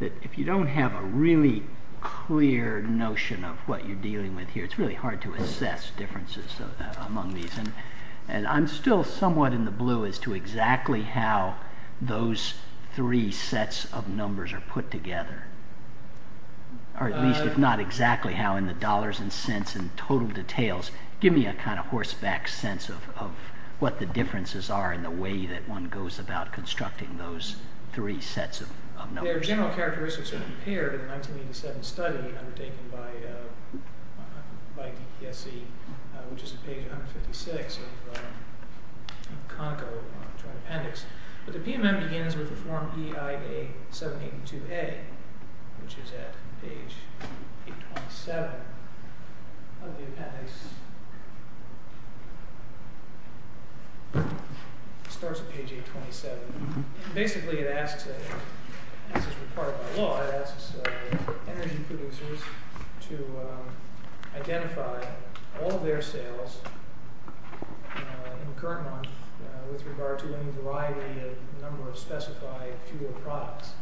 if you don't have a really clear notion of what you're dealing with here, it's really hard to assess differences among these, and I'm still somewhat in the blue as to exactly how those three sets of numbers are put together, or at least if not exactly how in the dollars and cents and total details. Give me a kind of horseback sense of what the differences are in the way that one goes about constructing those three sets of numbers. Their general characteristics are compared in the 1987 study undertaken by by DPSC, which is on page 156 of Conoco Joint Appendix, but the PMM begins with the form EIA782A. Which is at page 827 of the appendix. It starts at page 827. Basically it asks, as is required by law, it asks energy producers to identify all their sales in the current month with regard to any variety of number of specified fuel products.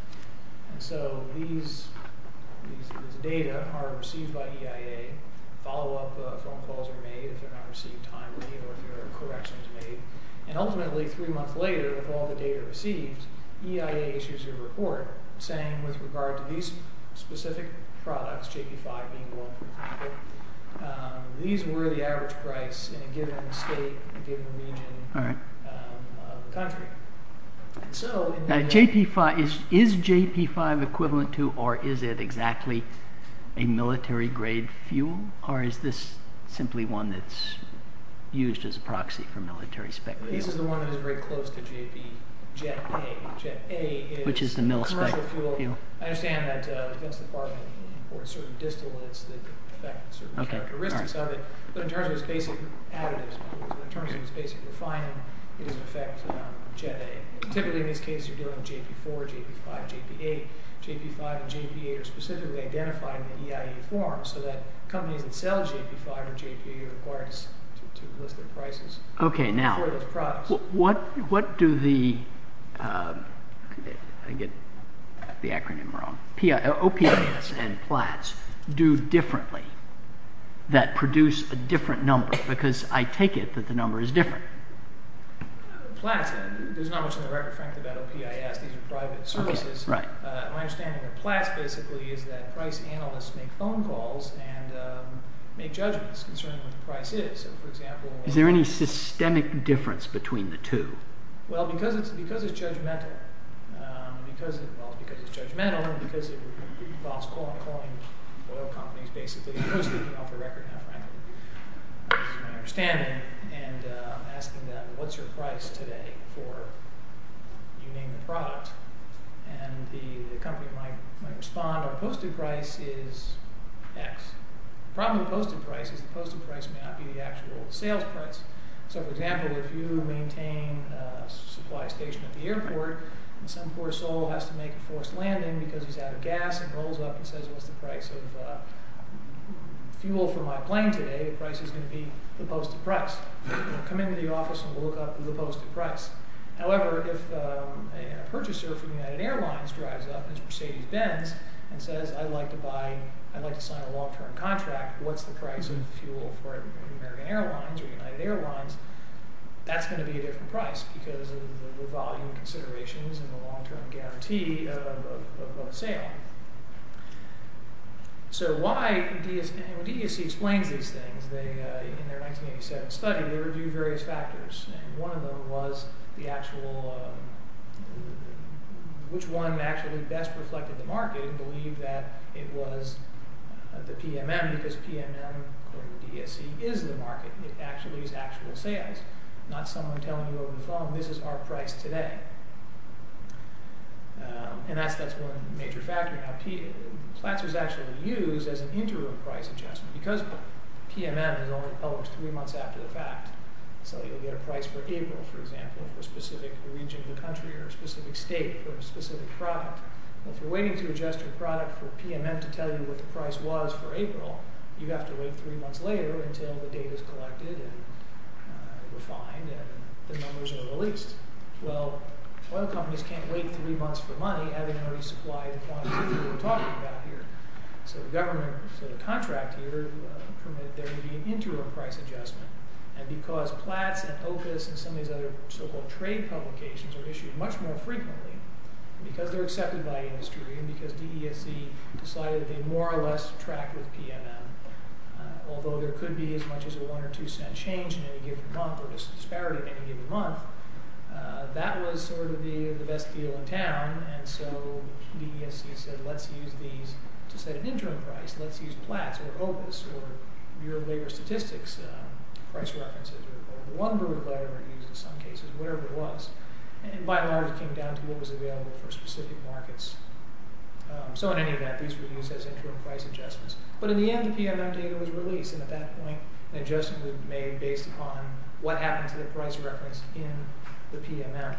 And so these data are received by EIA, follow-up phone calls are made if they're not received timely or if there are corrections made, and ultimately three months later with all the data received, EIA issues a report saying with regard to these specific products, JP5 being one for example, these were the average price in a given state, a given region of the country. Now JP5, is JP5 equivalent to or is it exactly a military grade fuel or is this simply one that's used as a proxy for military spec fuel? This is the one that is very close to JP, Jet A. Jet A is commercial fuel. I understand that against the part of certain distillates that affect certain characteristics of it, but in terms of its basic additives, in terms of its basic refining, it doesn't affect Jet A. Typically in this case you're dealing with JP4, JP5, JP8. JP5 and JP8 are specifically identified in the EIA form so that companies that sell JP5 or JP8 are required to list their prices for those products. Okay now, what do the, I get the acronym wrong, OPAS and PLATS do differently that produce a different number? Because I take it that the PLATS, there's not much in the record frankly about OPAS, these are private services. My understanding of PLATS basically is that price analysts make phone calls and make judgments concerning what the price is. So for example, is there any systemic difference between the two? Well because it's judgmental, because it involves calling oil companies basically, mostly off the record now frankly. That's my understanding and asking them, what's your price today for, you name the product, and the company might respond, our posted price is X. The problem with posted price is the posted price may not be the actual sales price. So for example, if you maintain a supply station at the airport and some poor soul has to make a forced landing because he's out of gas and rolls up and says, what's the price of fuel for my plane today? The price is going to be the posted price. Come into the office and we'll look up the posted price. However, if a purchaser from United Airlines drives up as Mercedes-Benz and says, I'd like to buy, I'd like to sign a long-term contract, what's the price of fuel for American Airlines or United Airlines? That's going to be a different price because of the volume considerations and the sale. So why DSC, DSC explains these things. In their 1987 study, they reviewed various factors and one of them was the actual, which one actually best reflected the market and believed that it was the PMM because PMM, according to DSC, is the market. It actually is actual sales, not someone telling you over the phone, this is our price today. And that's one major factor. Now, Platzer's actually used as an interim price adjustment because PMM is only published three months after the fact. So you'll get a price for April, for example, for a specific region of the country or a specific state for a specific product. If you're waiting to adjust your product for PMM to tell you what the price was for April, you have to wait three months later until the data is collected and refined and the numbers are released. Well, oil companies can't wait three months for money having already supplied the quantity that we're talking about here. So the government, so the contract here permitted there to be an interim price adjustment and because Platz and Opus and some of these other so-called trade publications are issued much more frequently because they're tracked with PMM. Although there could be as much as a one or two cent change in any given month or disparity in any given month, that was sort of the best deal in town. And so DSC said, let's use these to set an interim price. Let's use Platz or Opus or your labor statistics, price references, or one group letter reviews in some cases, whatever it was. And by and large, it came down to what was available for specific markets. So in any event, these were used as interim price adjustments. But in the end, the PMM data was released. And at that point, an adjustment was made based upon what happened to the price reference in the PMM.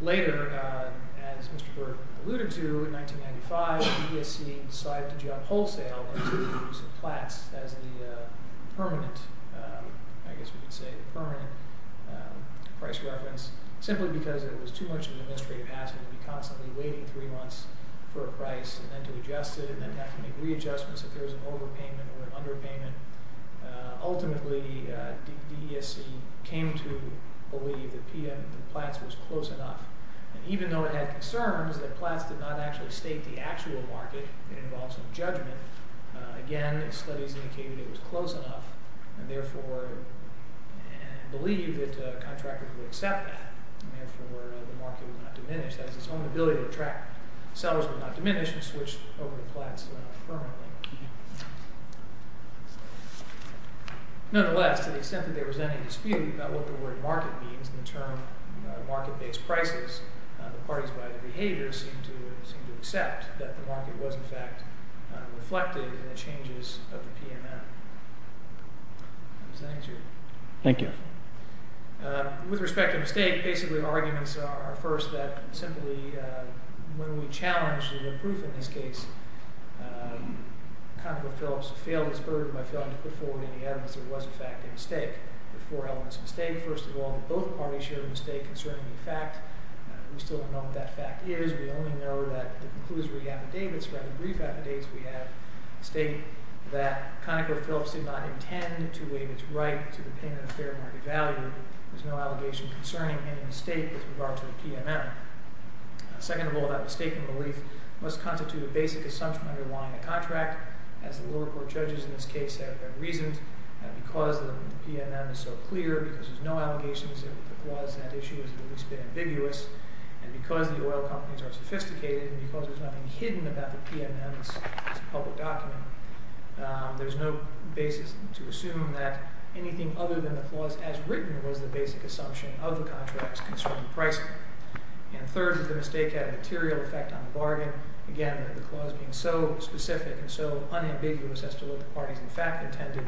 Later, as Mr. Burke alluded to, in 1995, DSC decided to jump wholesale to Platz as the permanent, I guess we could say the permanent price reference, simply because it was too much administrative hassle to be constantly waiting three months for a price and then to adjust it and then have to make readjustments if there was an overpayment or an underpayment. Ultimately, DSC came to believe that Platz was close enough. And even though it had concerns that Platz did not actually state the actual market, it involves some judgment. Again, studies indicated it was that its own ability to attract sellers would not diminish and switch over to Platz permanently. Nonetheless, to the extent that there was any dispute about what the word market means in the term market-based prices, the parties by the behavior seem to accept that the market was, in fact, reflected in the changes of the PMM. Thank you. With respect to mistake, basically, arguments are, first, that simply, when we challenge the proof in this case, ConocoPhillips failed its burden by failing to put forward any evidence there was, in fact, a mistake. There are four elements of a mistake. First of all, both parties share a mistake concerning the fact. We still don't know what that fact is. We only know that the conclusory affidavits, rather brief affidavits, we have state that ConocoPhillips did not intend to waive its right to the payment of fair market value. There's no allegation concerning any mistake with regard to the PMM. Second of all, that mistake and relief must constitute a basic assumption underlying a contract, as the lower court judges in this case have reasoned, and because the PMM is so clear, because there's no allegations of the clause, that issue has at least been ambiguous, and because the oil companies are sophisticated, and because there's nothing hidden about the PMM as a public document, there's no basis to assume that anything other than the clause, as written, was the basic assumption of the contracts concerning pricing. And third, that the mistake had a material effect on the bargain. Again, the clause being so specific and so unambiguous as to what the parties, in fact, intended,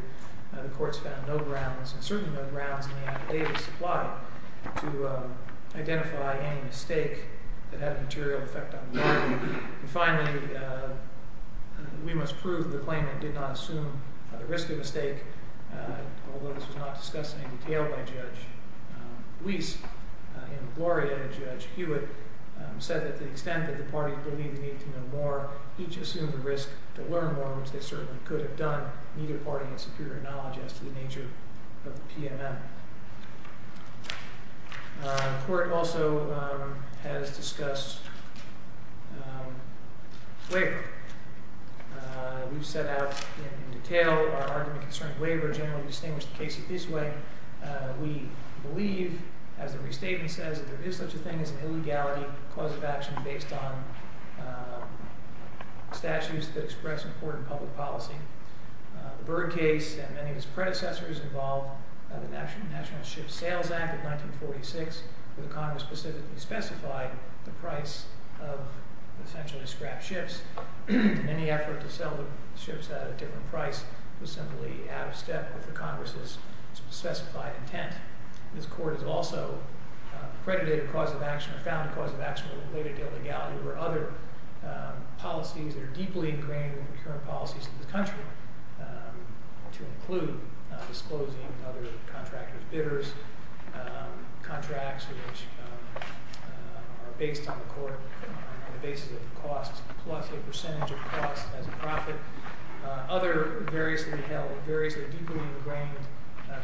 the courts found no grounds, and certainly no grounds in the affidavit supply, to identify any mistake that had a material effect on the bargain. And finally, we must prove the claimant did not assume the risk of a mistake, although this was not discussed in any detail by Judge Weiss, and Gloria and Judge Hewitt said that the extent that the parties believed they needed to know more, each assumed the risk to learn more, which they certainly could have done. Neither party had superior knowledge as to the nature of the PMM. The court also has discussed waiver. We've set out in detail our argument concerning waiver, generally distinguish the case this way. We believe, as the restatement says, that there is such a thing as an illegality clause of action based on statutes that express important public policy. The Byrd case and many of his predecessors involved the National Ship Sales Act of 1946, where the Congress specifically specified the price of essentially scrap ships. Any effort to sell the ships at a different price was simply out of step with the Congress's specified intent. This court has also accredited a clause of action or found a clause of action related to illegality where other policies that are deeply ingrained in the current policies of the country, to include disclosing other contractors' bidders, contracts which are based on the court on the basis of costs plus a percentage of costs as a profit. Other variously held, variously deeply ingrained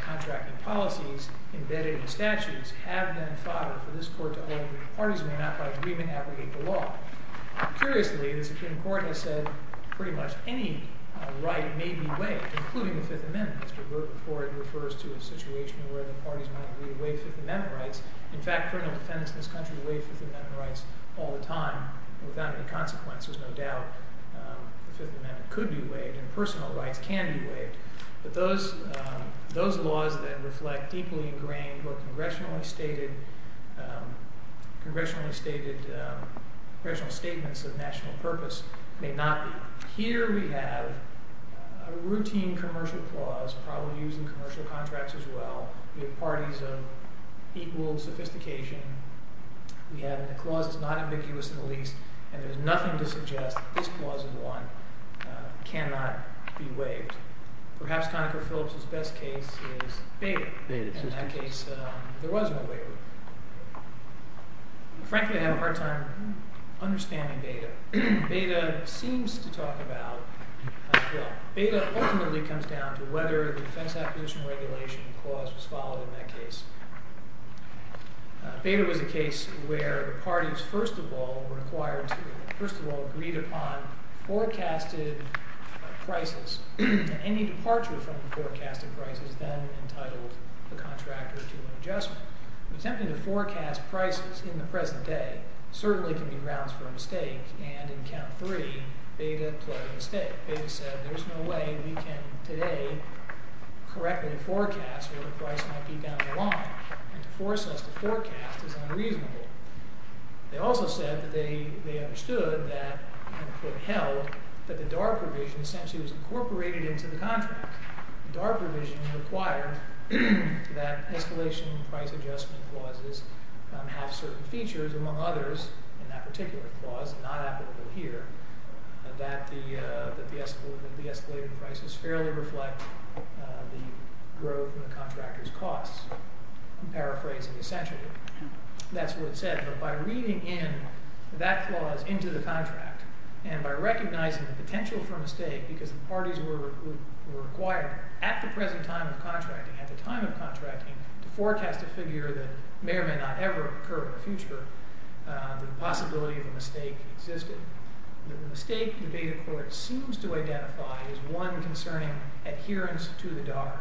contracting policies embedded in the statutes have been fodder for this court to parties may not by agreement abrogate the law. Curiously, the Supreme Court has said pretty much any right may be waived, including the Fifth Amendment. Mr. Byrd before it refers to a situation where the parties might agree to waive Fifth Amendment rights. In fact, criminal defendants in this country waive Fifth Amendment rights all the time without any consequences. No doubt the Fifth Amendment could be waived and personal rights can be waived, but those laws that reflect deeply ingrained or congressionally stated congressional statements of national purpose may not be. Here we have a routine commercial clause probably used in commercial contracts as well. We have parties of equal sophistication. We have a clause that's not ambiguous in the least, and there's nothing to suggest this clause in one cannot be waived. Perhaps Conacher Phillips's best case is Bader. In that case, there was no waiver. Frankly, I have a hard time understanding Bader. Bader seems to talk about, well, Bader ultimately comes down to whether the defense acquisition regulation clause was followed in that case. Bader was a case where the parties first of all were required to, first of all, agreed upon forecasted prices. Any departure from the forecasted prices then entitled the adjustment. Attempting to forecast prices in the present day certainly can be grounds for a mistake, and in count three, Bader played a mistake. Bader said there's no way we can today correctly forecast where the price might be down the line, and to force us to forecast is unreasonable. They also said that they understood that, and put held, that the DARPA provision essentially was incorporated into the contract. DARPA provision required that escalation and price adjustment clauses have certain features, among others, in that particular clause, not applicable here, that the escalated prices fairly reflect the growth in the contractor's costs. I'm paraphrasing essentially. That's what it said, but by reading in that clause into the contract, and by recognizing the potential for a mistake, because the parties were required at the present time of contracting, at the time of contracting, to forecast a figure that may or may not ever occur in the future, the possibility of a mistake existed. The mistake the Bader court seems to identify is one concerning adherence to the DARPA.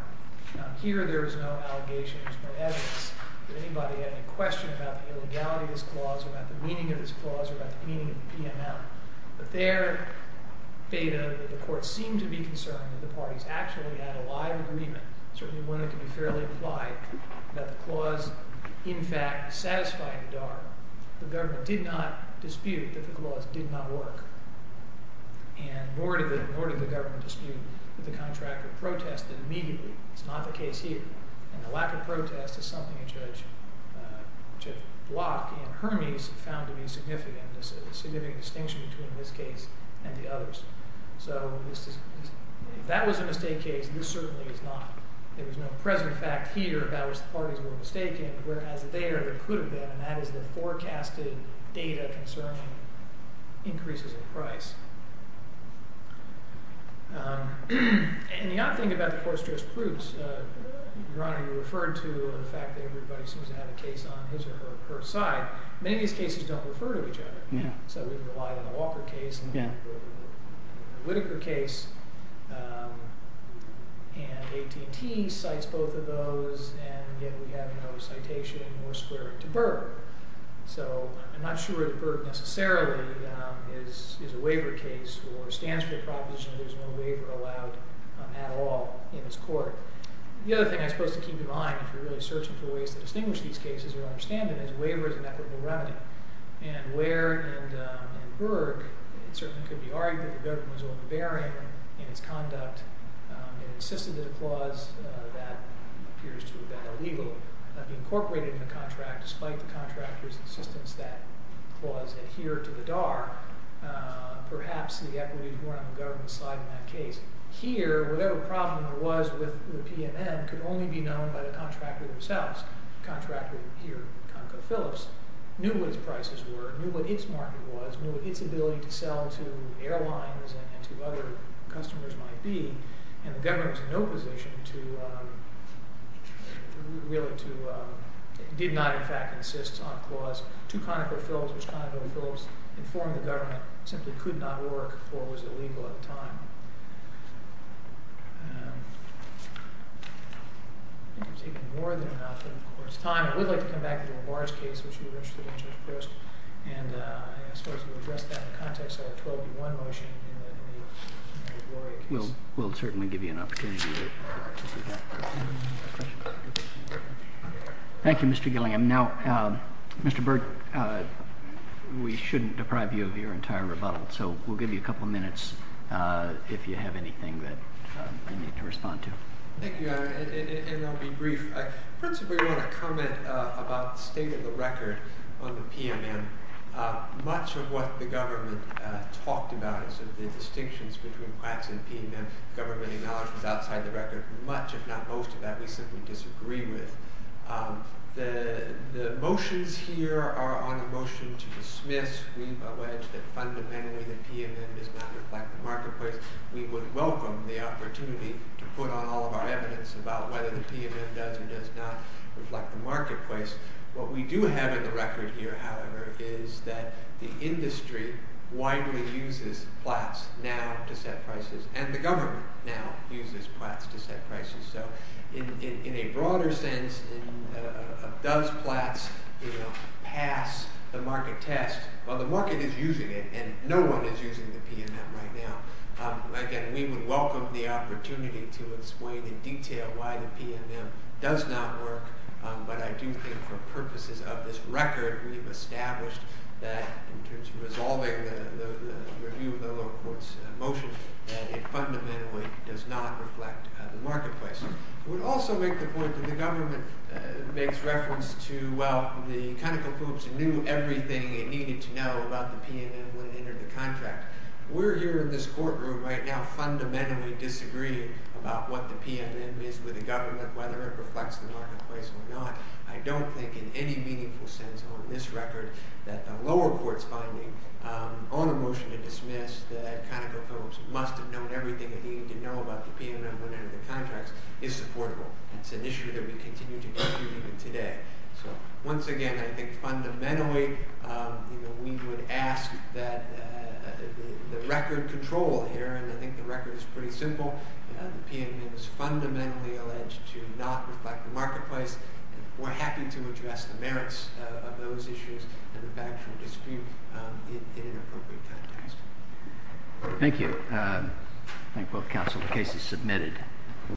Here there is no allegation, there's no evidence that anybody had any question about the illegality of this clause, about the meaning of this clause, or about the meaning of PML. But there, Bader, the court seemed to be concerned that the parties actually had a live agreement, certainly one that could be fairly implied, that the clause, in fact, satisfied the DARPA. The government did not dispute that the clause did not work, and nor did the government dispute that the contractor protested immediately. It's not the significant distinction between this case and the others. So if that was a mistake case, this certainly is not. There was no present fact here about which the parties were mistaken, whereas there, there could have been, and that is the forecasted data concerning increases in price. And you ought to think about the court's jurisprudence. Your Honor, you referred to the fact that everybody seems to have a case on his or her side. Many of these cases don't refer to each other. So we can rely on the Walker case and the Whitaker case, and AT&T cites both of those, and yet we have no citation or squaring to Burt. So I'm not sure that Burt necessarily is a waiver case or stands for the proposition that there's no waiver allowed at all in this court. The other thing I suppose to keep in mind, if you're really searching for ways to distinguish these cases or understand them, is a waiver is an equitable remedy. And Ware and Berg, it certainly could be argued that the government was overbearing in its conduct and insisted that a clause that appears to have been illegal be incorporated in the contract, despite the contractor's insistence that the clause adhere to the DAR. Perhaps the equity was more on the government's side in that case. Here, whatever problem there was with the PNM could only be solved. Contractor here, ConocoPhillips, knew what its prices were, knew what its market was, knew what its ability to sell to airlines and to other customers might be, and the government was in no position to, really to, did not in fact insist on a clause to ConocoPhillips, which ConocoPhillips informed the government simply could not work or was illegal at the time. I think we've taken more than enough of the court's time. I would like to come back to the Morris case, which we were interested in, Judge Proust, and I suppose we'll address that in the context of a 12-1 motion in the Gloria case. We'll certainly give you an opportunity to do that. Thank you, Mr. Gilliam. Now, Mr. Berg, we shouldn't deprive you of your entire rebuttal, so we'll give you a couple minutes if you have anything that you need to respond to. Thank you, and I'll be brief. I principally want to comment about the state of the record on the PNM. Much of what the government talked about is the distinctions between plaques and PNM. The government acknowledged was outside the record. Much, if not most, of that we simply disagree with. The motions here are on a motion to dismiss. We've alleged that fundamentally the PNM does not reflect the marketplace. We would welcome the opportunity to put on all of our evidence about whether the PNM does or does not reflect the marketplace. What we do have in the record here, however, is that the industry widely uses plaques now to set prices, and the government now uses plaques to set prices. So in a broader sense, does plaques pass the market test? Well, the market is using it, and no one is using the PNM right now. Again, we would welcome the opportunity to explain in detail why the PNM does not work, but I do think for purposes of this record, we've established that in terms of resolving the review of the lower court's motion, that it fundamentally does not reflect the marketplace. I would also make the point that the government makes reference to, well, the ConocoPhillips knew everything it needed to know about the PNM when it entered the contract. We're here in this courtroom right now fundamentally disagreeing about what the PNM is with the government, whether it reflects the marketplace or not. I don't think in any meaningful sense on this record that the lower court's finding on a motion to dismiss that ConocoPhillips must have known everything it needed to know about the PNM when it entered the contract is supportable. It's an issue that we continue to dispute even today. So once again, I think fundamentally, we would ask that the record control here, and I think the record is pretty simple, the PNM is fundamentally alleged to not reflect the marketplace, and we're happy to address the merits of those issues and the counsel the case is submitted.